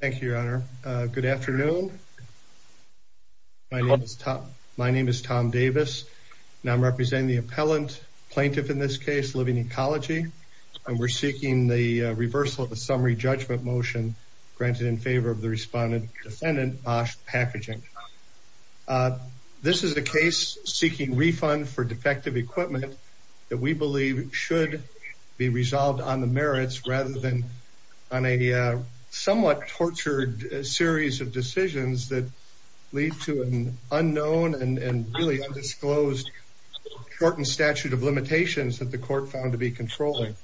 Thank you, Your Honor. Good afternoon. My name is Tom Davis and I'm representing the appellant, plaintiff in this case, Living Ecology, and we're seeking the reversal of the summary judgment motion granted in favor of the respondent, defendant, Bosch Packaging. This is a case seeking refund for defective equipment that we believe should be resolved on the merits rather than on a somewhat tortured series of decisions that lead to an unknown and really undisclosed court and statute of limitations that the court found to be controlling.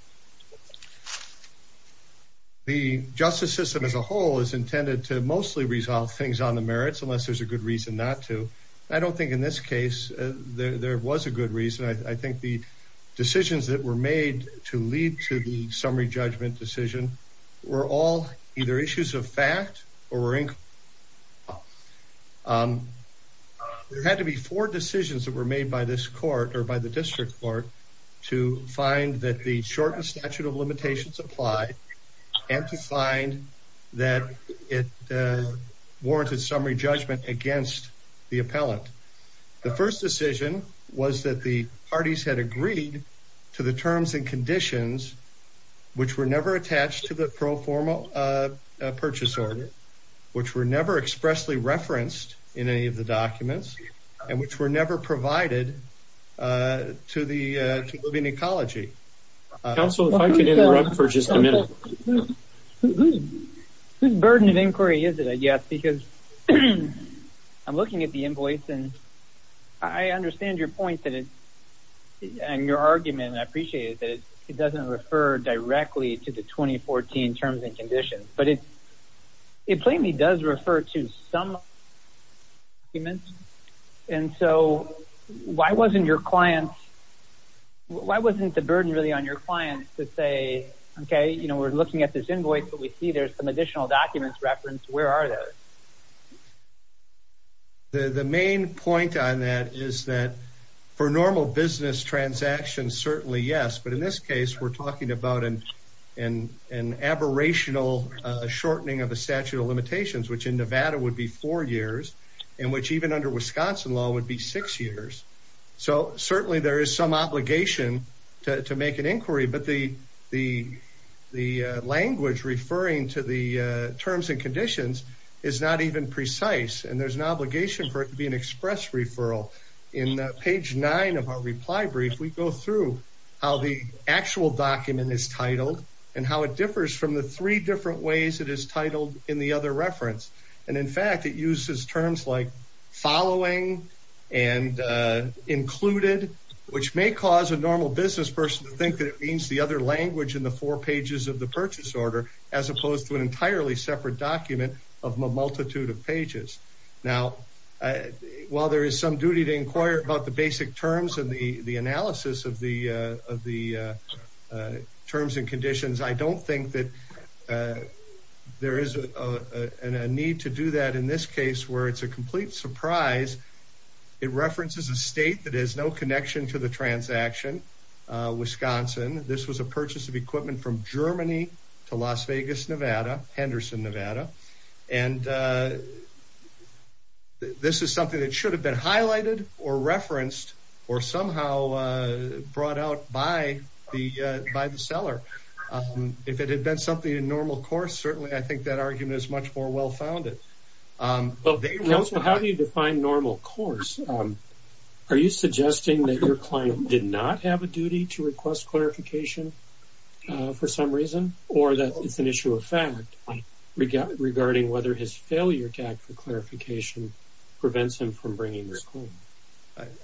The justice system as a whole is intended to mostly resolve things on the merits unless there's a good reason not to. I don't think in this case there was a good reason. I think the decisions that were made to lead to the summary judgment decision were all either issues of fact or were incorporated. There had to be four decisions that were made by this court or by the district court to find that the shortened statute of limitations apply and to find that it warranted summary judgment against the appellant. The first decision was that the parties had agreed to the terms and conditions which were never attached to the pro forma purchase order, which were never expressly referenced in any of the documents, and which were never provided to the Living Ecology. Council, if I could interrupt for just a minute. Whose burden of inquiry is it, I guess, because I'm looking at the invoice and I and your argument, and I appreciate it, that it doesn't refer directly to the 2014 terms and conditions, but it plainly does refer to some documents. And so why wasn't your client, why wasn't the burden really on your client to say, okay, you know, we're looking at this invoice, but we see there's some additional documents referenced, where are those? The main point on that is that for normal business transactions, certainly yes, but in this case, we're talking about an aberrational shortening of the statute of limitations, which in Nevada would be four years, and which even under Wisconsin law would be six years. So certainly there is some obligation to make an inquiry, but the language referring to the terms and conditions is not even precise, and there's an obligation for it to be an express referral. In page nine of our reply brief, we go through how the actual document is titled and how it differs from the three different ways it is titled in the other reference. And in fact, it uses terms like following and included, which may cause a normal business person to think that it means the other language in the four pages of the purchase order, as opposed to an entirely separate document of a multitude of pages. Now, while there is some duty to inquire about the basic terms and the analysis of the terms and conditions, I don't think that there is a need to do that in this case, where it's a complete surprise. It references a state that has no connection to the transaction, Wisconsin. This was a purchase of equipment from Germany to Las Vegas, Nevada, Henderson, Nevada. And this is something that should have been highlighted or referenced or somehow brought out by the seller. If it had been something in normal course, certainly I think that argument is much more well-founded. How do you define normal course? Are you suggesting that your client did not have a duty to request clarification for some reason, or that it's an issue of fact regarding whether his failure to ask for clarification prevents him from bringing this home?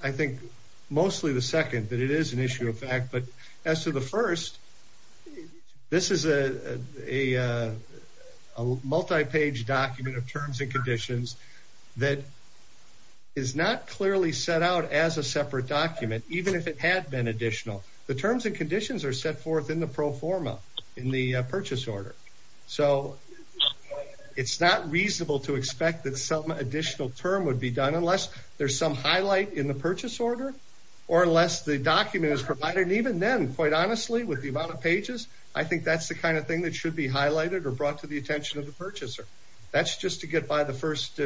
I think mostly the second, that it is an issue of fact. But as to the first, this is a multi-page document of terms and conditions that is not clearly set out as a separate document, even if it had been additional. The terms and conditions are set forth in the pro forma, in the purchase order. So it's not reasonable to expect that some additional term would be done unless there's some highlight in the purchase order, or unless the document is provided. And even then, quite the kind of thing that should be highlighted or brought to the attention of the purchaser. That's just to get by the first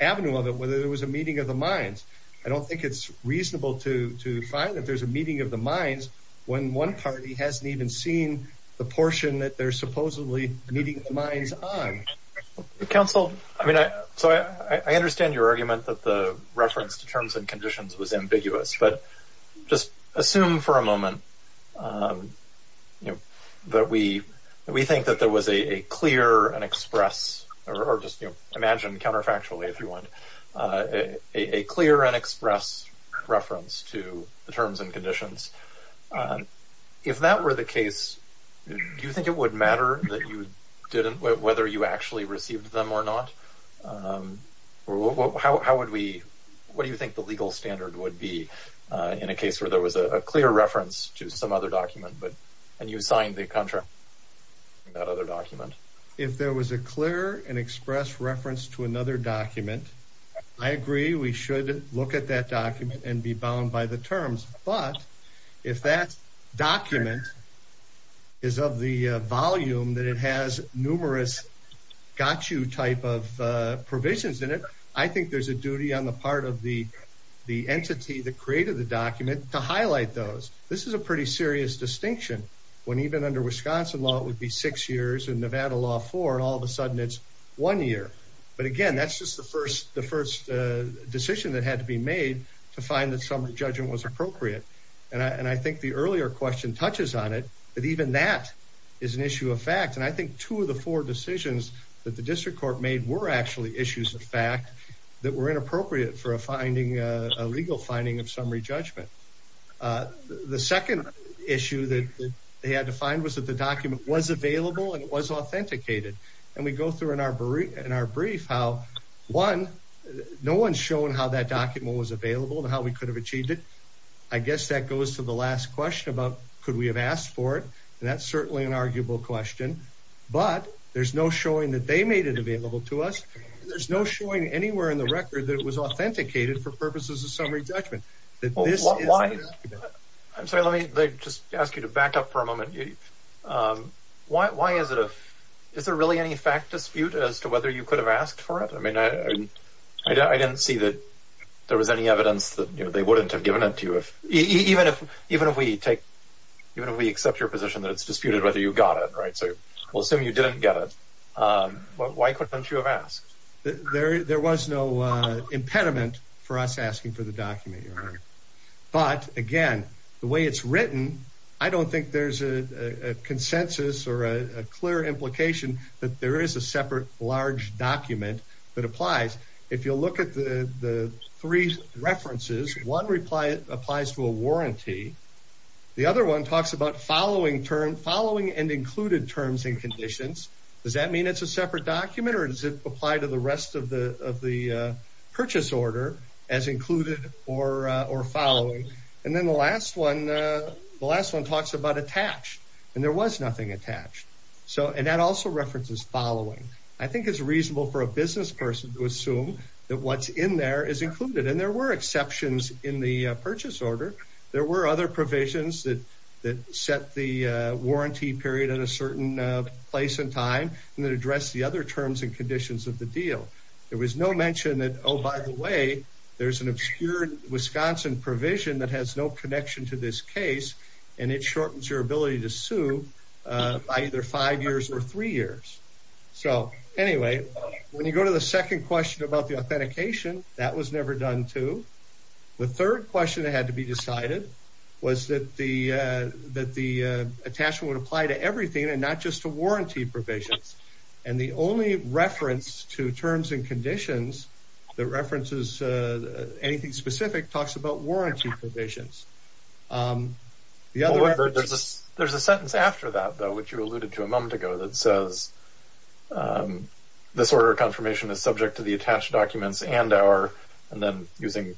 avenue of it, whether there was a meeting of the minds. I don't think it's reasonable to find that there's a meeting of the minds when one party hasn't even seen the portion that they're supposedly meeting the minds on. Counsel, I mean, so I understand your argument that the reference to terms and conditions, that we think that there was a clear and express, or just imagine counterfactually if you want, a clear and express reference to the terms and conditions. If that were the case, do you think it would matter that you didn't, whether you actually received them or not? How would we, what do you think the legal standard would be in a case where there was a clear reference to some other document, but, and you signed the contract for that other document? If there was a clear and express reference to another document, I agree we should look at that document and be bound by the terms. But, if that document is of the volume that it has numerous got you type of provisions in it, I think there's a duty on the part of the entity that created the document to highlight those. This is a pretty serious distinction when even under Wisconsin law, it would be six years and Nevada law four, and all of a sudden it's one year. But again, that's just the first, the first decision that had to be made to find that summary judgment was appropriate. And I, and I think the earlier question touches on it, but even that is an issue of fact. And I think two of the four decisions that the district court made were actually issues of fact that were inappropriate for a legal finding of summary judgment. The second issue that they had to find was that the document was available and it was authenticated. And we go through in our brief how one, no one's shown how that document was available and how we could have achieved it. I guess that goes to the last question about, could we have asked for it? And that's certainly an arguable question, but there's no showing that they made it available to us. There's no showing anywhere in the record that it was authenticated for purposes of summary judgment. I'm sorry, let me just ask you to back up for a moment. Um, why, why is it a, is there really any fact dispute as to whether you could have asked for it? I mean, I, I didn't see that there was any evidence that they wouldn't have given it to you if, even if, even if we take, even if we accept your position that it's disputed whether you got it right. So we'll assume you didn't get it. Um, why couldn't you have asked? There, there was no, uh, impediment for us asking for the document. But again, the way it's written, I don't think there's a consensus or a clear implication that there is a separate large document that applies. If you'll look at the three references, one reply applies to a warranty. The other one talks about following term following and included terms and conditions. Does that mean it's a separate document or does it apply to the rest of the, of the, uh, purchase order as included or, uh, or following? And then the last one, uh, the last one talks about attached and there was nothing attached. So, and that also references following. I think it's reasonable for a business person to assume that what's in there is included and there were exceptions in the purchase order. There were other provisions that, that set the, uh, warranty period at a certain place in time and that address the other terms and conditions of the deal. There was no mention that, oh, by the way, there's an obscured Wisconsin provision that has no connection to this case and it shortens your ability to sue, uh, by either five years or three years. So anyway, when you go to the second question about the authentication, that was never done too. The third question that had to be decided was that the, uh, that the, uh, attachment would apply to everything and not just to warranty provisions. And the only reference to terms and conditions that references, uh, anything specific talks about warranty provisions. Um, the other word, there's a, there's a sentence after that, though, which you alluded to a moment ago that says, um, this order confirmation is subject to the attached documents and our, and then using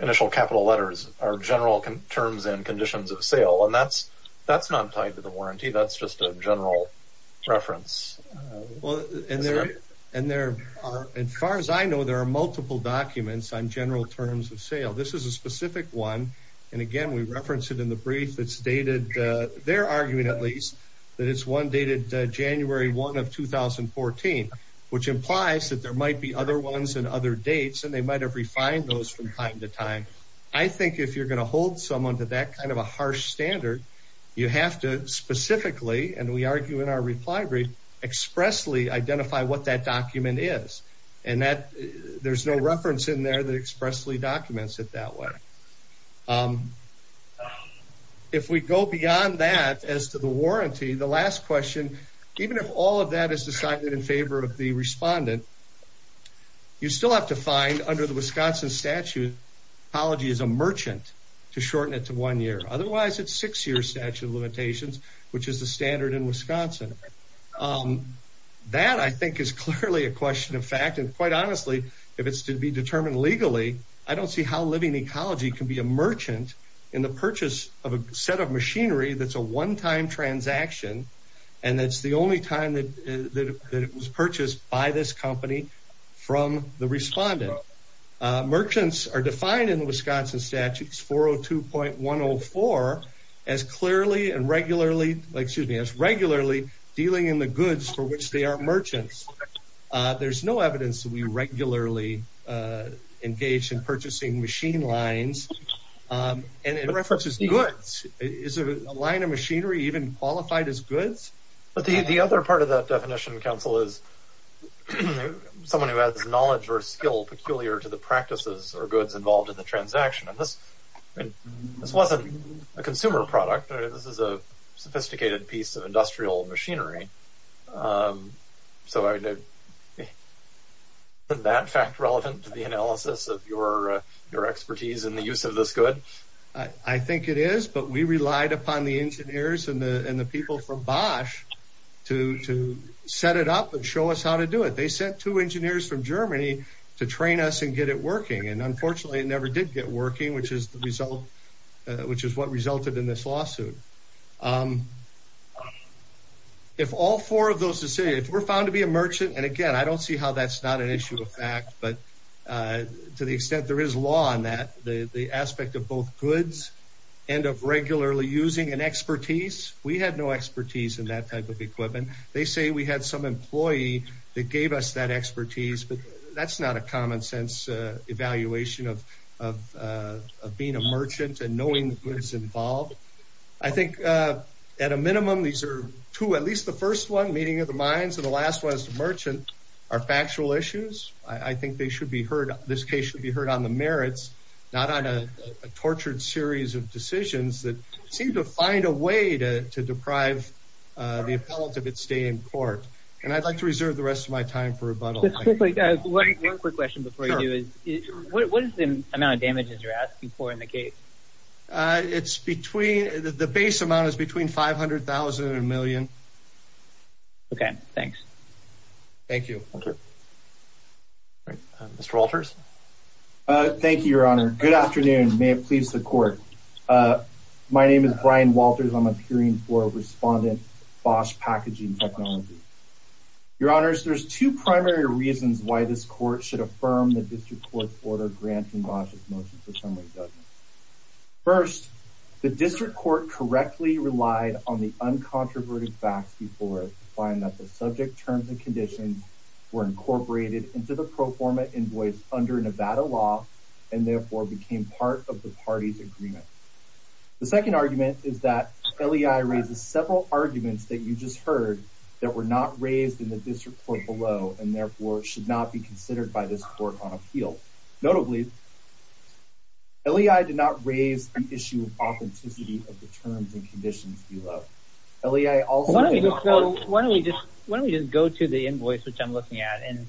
initial capital letters are general terms and conditions of sale. And that's, that's not tied to the warranty. That's just a general reference. Well, and there, and there are, as far as I know, there are multiple documents on general terms of sale. This is a specific one. And again, we referenced it in the brief that's dated, uh, they're arguing at least that it's one dated January one of 2014, which implies that there might be other ones and other dates and they might have refined those from time to time. I think if you're going to hold someone to that kind of a harsh standard, you have to specifically, and we argue in our reply brief, expressly identify what that document is and that there's no reference in there that expressly documents it that way. Um, if we go beyond that as to the warranty, the last question, even if all of that is decided in favor of the respondent, you still have to find under the Wisconsin statute, apology is a merchant to shorten it to one year. Otherwise it's six years statute of limitations, which is the standard in Wisconsin. Um, that I think is clearly a question of fact. And quite honestly, if it's to be determined legally, I don't see how living ecology can be a merchant in the purchase of a set of machinery. That's a one time transaction. And that's the only time that, that it was purchased by this company from the respondent. Merchants are defined in the Wisconsin statutes 402.104 as clearly and regularly, excuse me, as regularly dealing in the goods for which they are merchants. Uh, there's no evidence that we regularly, uh, engaged in purchasing machine lines. Um, and it references goods. Is a line of machinery even qualified as goods? But the, the other part of that someone who has knowledge or skill peculiar to the practices or goods involved in the transaction of this. This wasn't a consumer product. This is a sophisticated piece of industrial machinery. Um, so I did that fact relevant to the analysis of your your expertise in the use of this good. I think it is. But we relied upon the engineers and the people from Bosch to set it up and show us how to do it. They sent two engineers from Germany to train us and get it working. And unfortunately, it never did get working, which is the result, which is what resulted in this lawsuit. Um, if all four of those to say if we're found to be a merchant and again, I don't see how that's not an issue of fact. But, uh, to the extent there is law on that, the aspect of both goods and of regularly using an expertise. We had no expertise in that type of equipment. They say we had some employee that gave us that expertise. But that's not a common sense evaluation of being a merchant and knowing goods involved. I think, uh, at a minimum, these air to at least the first one meeting of the minds of the last West merchant are factual issues. I think they should be heard. This case should be heard on the merits, not on a tortured series of decisions that seem to find a way to deprive the appellate of its stay in court. And I'd like to reserve the rest of my time for rebuttal. Quick question before you do is what is the amount of damages you're asking for in the case? Uh, it's between the base amount is between 500,000 and a million. Okay, thanks. Thank you. Mr Walters. Thank you, Your Honor. Good afternoon. May it please the court. Uh, my name is Brian Walters. I'm appearing for respondent Bosh packaging technology. Your Honor's. There's two primary reasons why this court should affirm that this report order granting Bosch's motion for summary. First, the district court correctly relied on the uncontroverted facts before find that the subject terms and conditions were incorporated into the pro forma invoice under Nevada law and therefore became part of the party's The second argument is that L. E. I. Raises several arguments that you just heard that were not raised in the district court below and therefore should not be considered by this court on appeal. Notably, L. E. I. Did not raise the issue of authenticity of the terms and conditions below L. E. I. Also, why don't we just why don't we just go to the invoice which I'm looking at and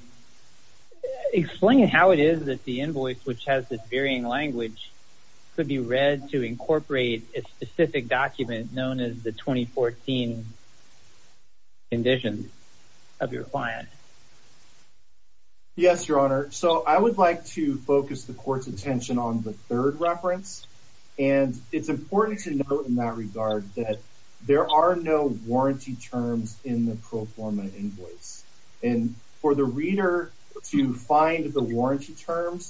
explain how it is that the invoice which has this varying language could be read to incorporate a specific document known as the 2014 condition of your client. Yes, Your Honor. So I would like to focus the court's attention on the third reference, and it's important to note in that regard that there are no warranty terms in the pro forma invoice and for the reader to find the terms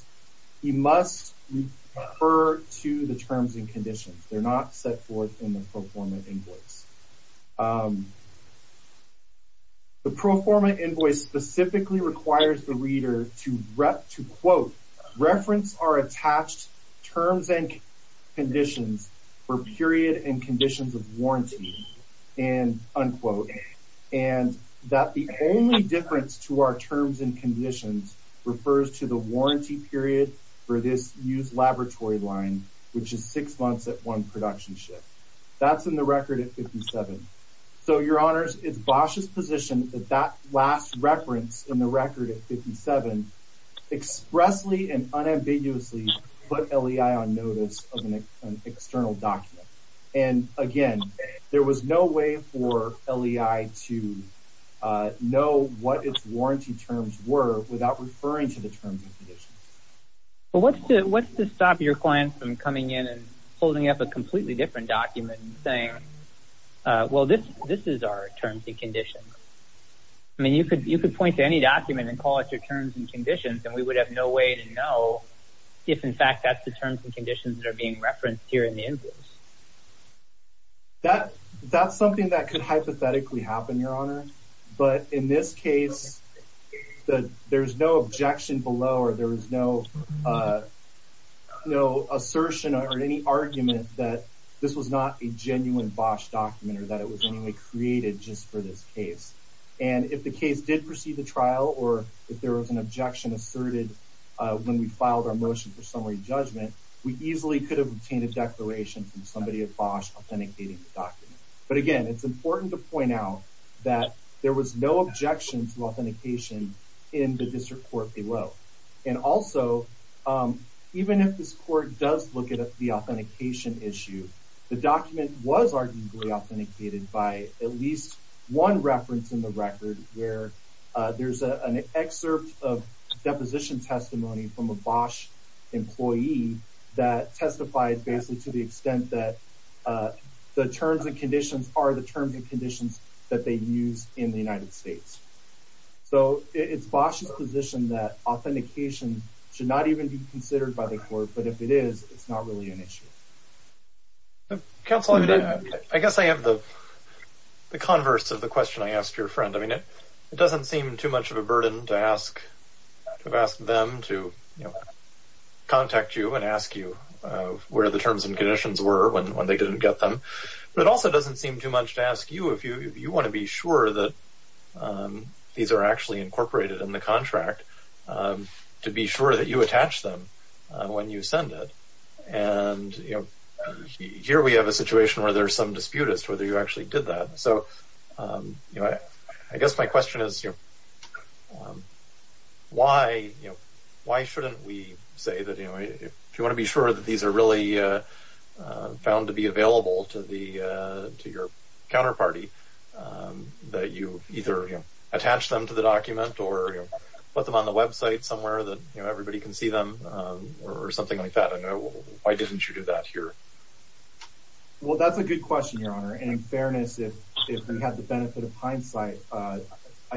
and conditions. They're not set forth in the pro forma invoice. The pro forma invoice specifically requires the reader to rep to quote reference are attached terms and conditions for period and conditions of warranty and unquote and that the only difference to our terms and conditions refers to the warranty period for this used laboratory line, which is six months at one production ship. That's in the record at 57. So, Your Honors, it's Bosch's position that that last reference in the record at 57 expressly and unambiguously put L. E. I. On notice of an external document. And again, there was no way for L. E. I. To know what its warranty terms were without referring to the terms and conditions. But what's to what's to stop your client from coming in and holding up a completely different document and saying, Well, this this is our terms and conditions. I mean, you could you could point to any document and call it your terms and conditions, and we would have no way to know if, in fact, that's the terms and conditions that are being referenced here in the invoice. That that's something that could hypothetically happen, Your Honor. But in this case, there's no objection below or there is no, uh, no assertion or any argument that this was not a genuine Bosch document or that it was anyway created just for this case. And if the case did proceed the trial or if there was an objection asserted when we filed our motion for summary judgment, we easily could have obtained a declaration from somebody at Bosch authenticating the document. But again, it's important to point out that there was no objection to authentication in the district court below. And also, um, even if this court does look at the authentication issue, the document was arguably authenticated by at least one reference in the record where there's an excerpt of deposition testimony from a Bosch employee that testified basically to the extent that, uh, the terms and conditions are the terms and conditions were when they didn't get them. But it also doesn't seem too much to ask you if you want to be sure that, um, these are actually incorporated in the contract, um, to be sure that you attach them when you send it. And, you know, here we have a situation where there's some disputed whether you actually did that. So, um, you know, I guess my question is, you know, um, why, you know, why shouldn't we say that, you know, if you want to be sure that these are really, uh, found to be available to the, uh, to your counterparty, um, that you either attach them to the document or put them on the website somewhere that everybody can see them or something like that. I know. Why didn't you do that here? Well, that's a good question, Your Honor. And in fairness, if we had the benefit of hindsight, I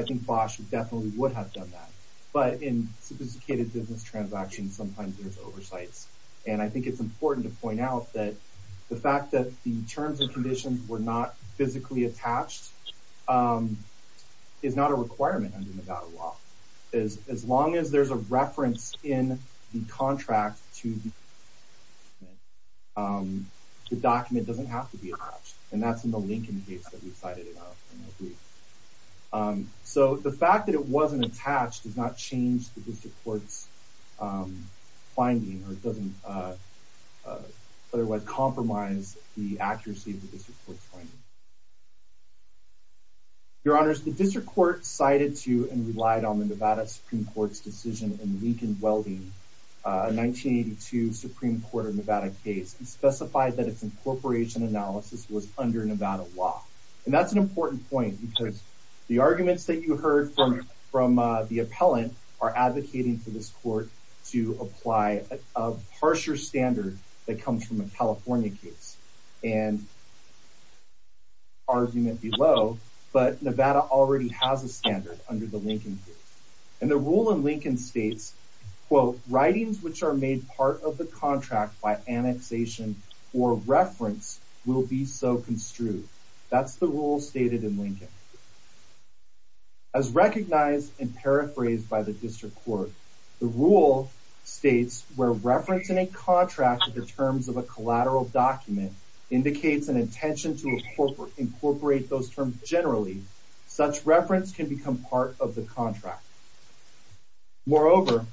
think Bosch definitely would have done that. But in sophisticated business transactions, sometimes there's oversights. And I think it's important to point out that the fact that the terms and conditions were not physically attached, um, is not a requirement under Nevada law. As long as there's a reference in the contract to, um, the document doesn't have to be attached. And that's in the Lincoln case that we cited. Um, so the fact that it wasn't attached does not change the district court's, um, finding, or it doesn't, uh, otherwise compromise the accuracy of the district court's finding. Your Honors, the district court cited to and relied on the Nevada Supreme Court's decision in Lincoln Welding, uh, 1982 Supreme Court of Nevada case and specified that its incorporation analysis was under Nevada law. And that's an argument that the, uh, the appellant are advocating for this court to apply a harsher standard that comes from a California case and argument below. But Nevada already has a standard under the Lincoln case. And the rule in Lincoln states, quote, writings which are made part of the contract by annexation or reference will be so construed. That's the rule stated in Lincoln. As recognized and paraphrased by the district court, the rule states where reference in a contract to the terms of a collateral document indicates an intention to incorporate those terms generally, such reference can become part of the contract. Moreover,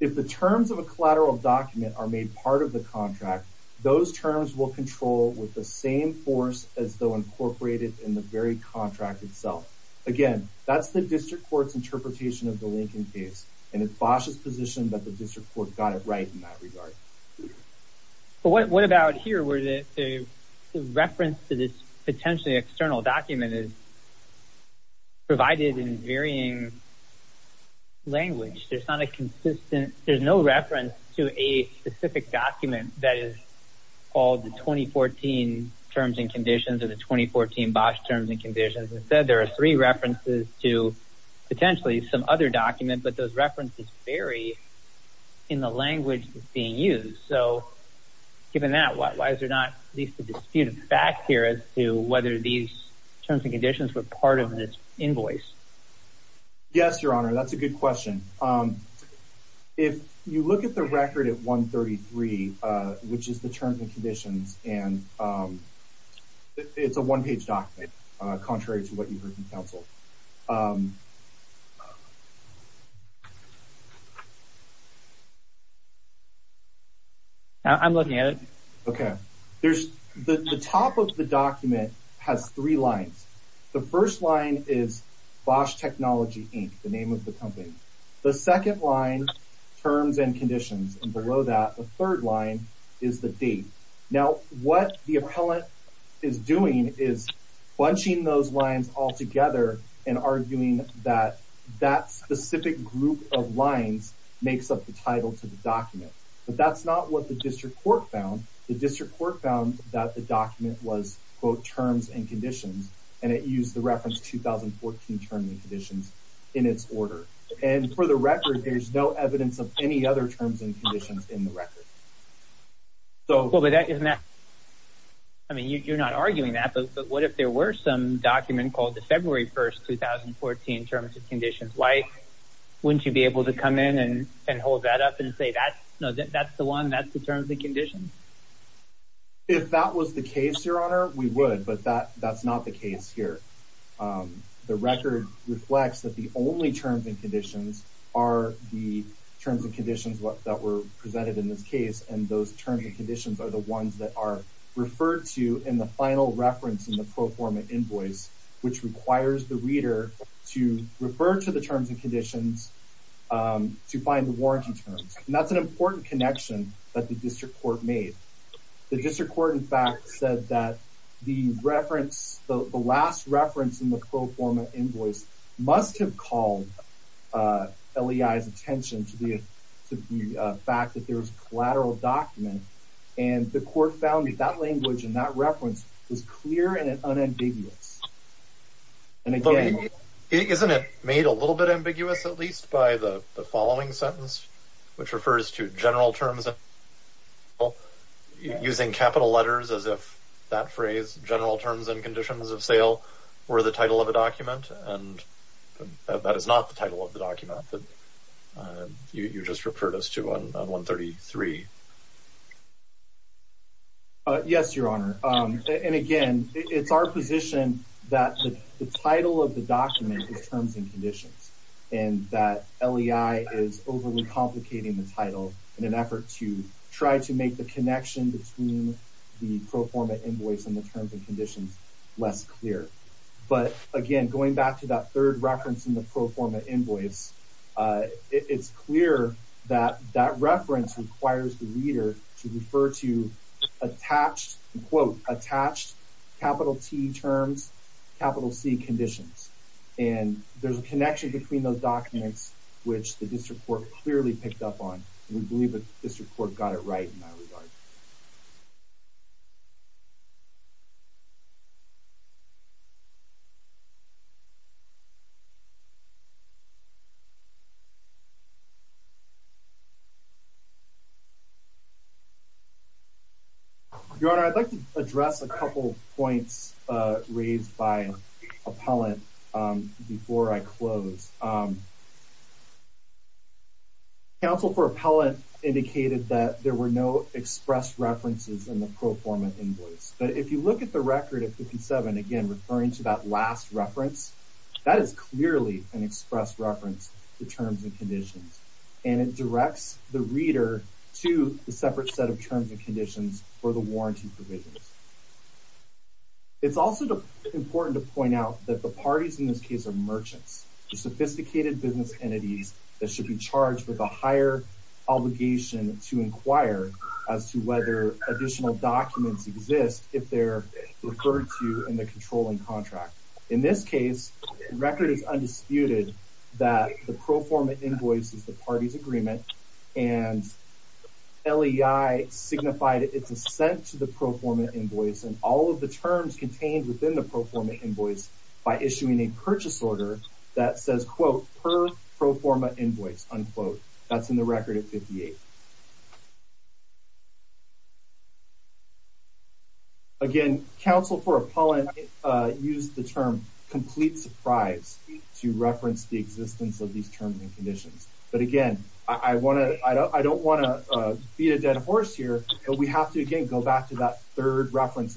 if the terms of a collateral document are made part of the contract, those terms are not included in the very contract itself. Again, that's the district court's interpretation of the Lincoln case. And it's Bosh's position that the district court got it right in that regard. But what about here where the reference to this potentially external document is provided in varying language? There's not a consistent, there's no reference to a specific document that is called the 2014 terms and conditions or the 2014 Bosh terms and conditions. Instead, there are three references to potentially some other document, but those references vary in the language that's being used. So given that, why is there not at least a dispute of fact here as to whether these terms and conditions were part of this invoice? Yes, Your Honor. That's a good question. If you look at the record at 133, which is the terms and conditions, and it's a one page document, contrary to what you heard from counsel. I'm looking at it. Okay. The top of the document has three lines. The first line is Bosh Technology, Inc., the name of the company. The second line, terms and conditions. What the appellant is doing is bunching those lines all together and arguing that that specific group of lines makes up the title to the document. But that's not what the district court found. The district court found that the document was both terms and conditions, and it used the reference 2014 terms and conditions in its order. And for the record, there's no evidence of any other terms and conditions in the record. So, I mean, you're not arguing that, but what if there were some document called the February 1st, 2014 terms and conditions? Why wouldn't you be able to come in and hold that up and say that that's the one that's the terms and conditions? If that was the case, Your Honor, we would, but that's not the case here. The record reflects that the only terms and conditions are the terms and conditions that were presented in this case, and those terms and conditions are the ones that are referred to in the final reference in the pro forma invoice, which requires the reader to refer to the terms and conditions to find the warranty terms. And that's an important connection that the district court made. The district court, in fact, said that the reference, the last reference in the pro forma invoice, was the fact that there's collateral document, and the court found that that language and that reference was clear and unambiguous. And again, isn't it made a little bit ambiguous, at least by the following sentence, which refers to general terms? Well, using capital letters as if that phrase general terms and conditions of sale were the title of a document, and that is not the title of the document that you just referred us to on 133. Yes, Your Honor. And again, it's our position that the title of the document is terms and conditions, and that L. E. I. Is overly complicating the title in an effort to try to make the connection between the pro forma invoice and the terms and conditions less clear. But again, going back to that third reference in the pro forma invoice, it's clear that that reference requires the reader to refer to attached quote attached capital T terms, capital C conditions. And there's a connection between those documents, which the district court clearly picked up on. We believe that this report got it right in that regard. Your Honor, I'd like to address a couple points raised by appellant before I close. Counsel for appellant indicated that there were no expressed references in the pro forma invoice. But if you look at the record of 57 again, referring to that last reference, that is clearly an expressed reference, the terms and conditions, and it directs the reader to the separate set of terms and conditions for the warranty provisions. It's also important to point out that the parties in this case of merchants, the sophisticated business entities that should be charged with a higher obligation to inquire as to whether additional documents exist if they're referred to in the controlling contract. In this case, the record is undisputed that the pro forma invoice is the party's agreement, and LEI signified its assent to the pro forma invoice and all of the terms contained within the pro forma invoice by issuing a purchase order that says, quote, per pro forma invoice, unquote. That's in the record at 58. Again, counsel for appellant used the term complete surprise to reference the existence of these terms and conditions. But again, I don't want to beat a dead horse here, but we have to, again, go back to that third reference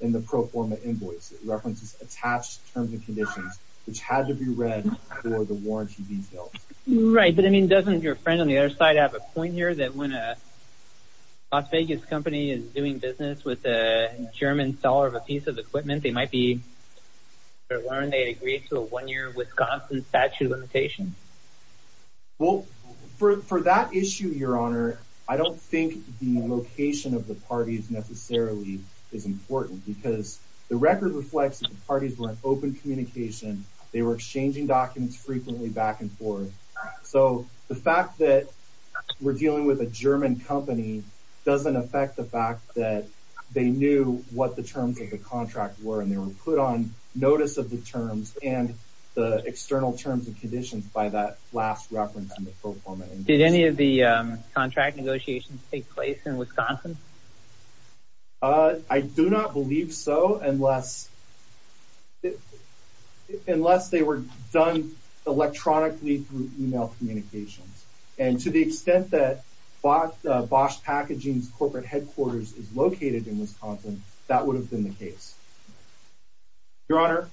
in the pro forma invoice. It references attached terms and conditions, which had to be read for the warranty details. Right, but I mean, doesn't your friend on the other side have a point here that when a Las Vegas company is doing business with a German seller of a piece of equipment, they might be, or learn they agreed to a one year Wisconsin statute of limitations? Well, for that issue, Your Honor, I don't think the location of the parties necessarily is important, because the record reflects that the parties were in for. So the fact that we're dealing with a German company doesn't affect the fact that they knew what the terms of the contract were, and they were put on notice of the terms and the external terms and conditions by that last reference in the pro forma invoice. Did any of the contract negotiations take place in Wisconsin? I do not believe so, unless they were done electronically through email communications. And to the extent that Bosch Packaging's corporate headquarters is located in Wisconsin, that would have been the case. Your Honor,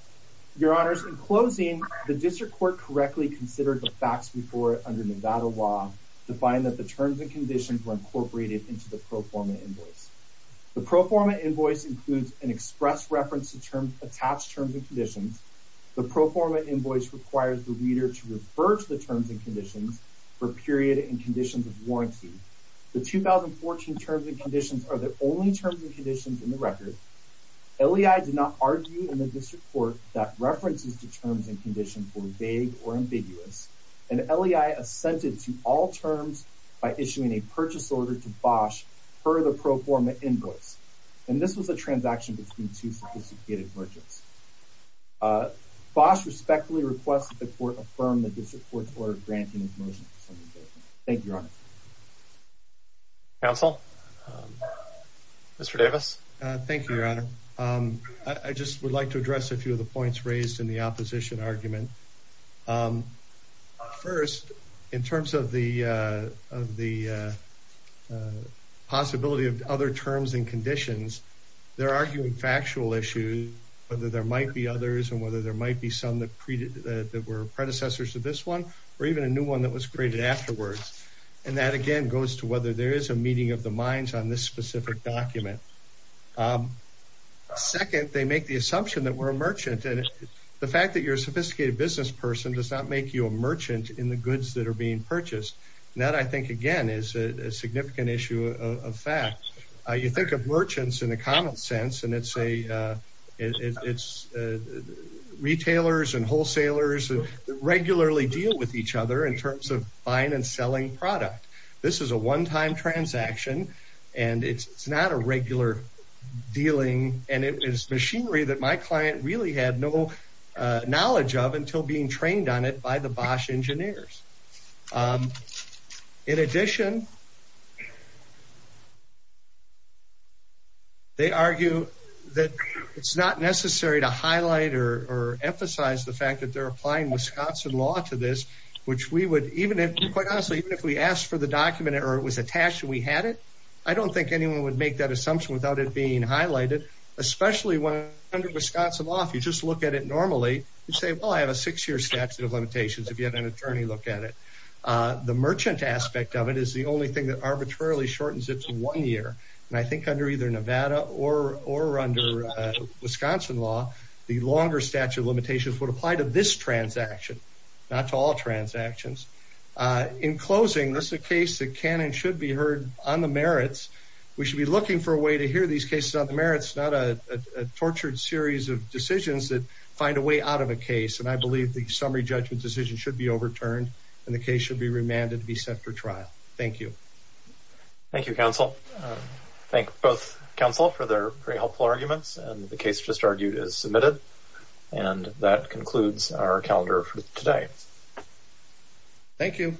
Your Honors, in closing, the district court correctly considered the facts before it under Nevada law to find that the terms and conditions were in the pro forma invoice. The pro forma invoice includes an express reference to terms, attached terms and conditions. The pro forma invoice requires the reader to refer to the terms and conditions for period and conditions of warranty. The 2014 terms and conditions are the only terms and conditions in the record. LEI did not argue in the district court that references to terms and conditions were vague or ambiguous, and LEI assented to all terms by issuing a purchase order to further pro forma invoice. And this was a transaction between two sophisticated merchants. Bosch respectfully requests that the court affirm the district court's order granting his motion. Thank you, Your Honor. Counsel? Mr. Davis. Thank you, Your Honor. I just would like to address a few of the points raised in the opposition argument. First, in terms of the possibility of other terms and conditions, they're arguing factual issues, whether there might be others and whether there might be some that were predecessors to this one, or even a new one that was created afterwards. And that, again, goes to whether there is a meeting of the minds on this specific document. Second, they make the assumption that we're a merchant. And the fact that you're a sophisticated business person does not make you a merchant in the goods that are being purchased. And that, I think, again, is a significant issue of fact. You think of merchants in a common sense, and it's retailers and wholesalers that regularly deal with each other in terms of buying and selling product. This is a one-time transaction, and it's not a regular dealing. And it is machinery that my client really had no knowledge of until being trained on it by the Bosch engineers. In addition, they argue that it's not necessary to highlight or emphasize the fact that they're applying Wisconsin law to this, which we would, even if, quite honestly, if we asked for the document or it was attached and we had it, I don't think anyone would make that assumption without it being Wisconsin law. If you just look at it normally, you'd say, well, I have a six-year statute of limitations if you had an attorney look at it. The merchant aspect of it is the only thing that arbitrarily shortens it to one year. And I think under either Nevada or under Wisconsin law, the longer statute of limitations would apply to this transaction, not to all transactions. In closing, this is a case that can and should be heard on the merits. We should be looking for a way to make these cases on the merits, not a tortured series of decisions that find a way out of a case. And I believe the summary judgment decision should be overturned and the case should be remanded to be sent for trial. Thank you. Thank you, counsel. Thank both counsel for their very helpful arguments, and the case just argued is submitted. And that concludes our calendar for today. Thank you.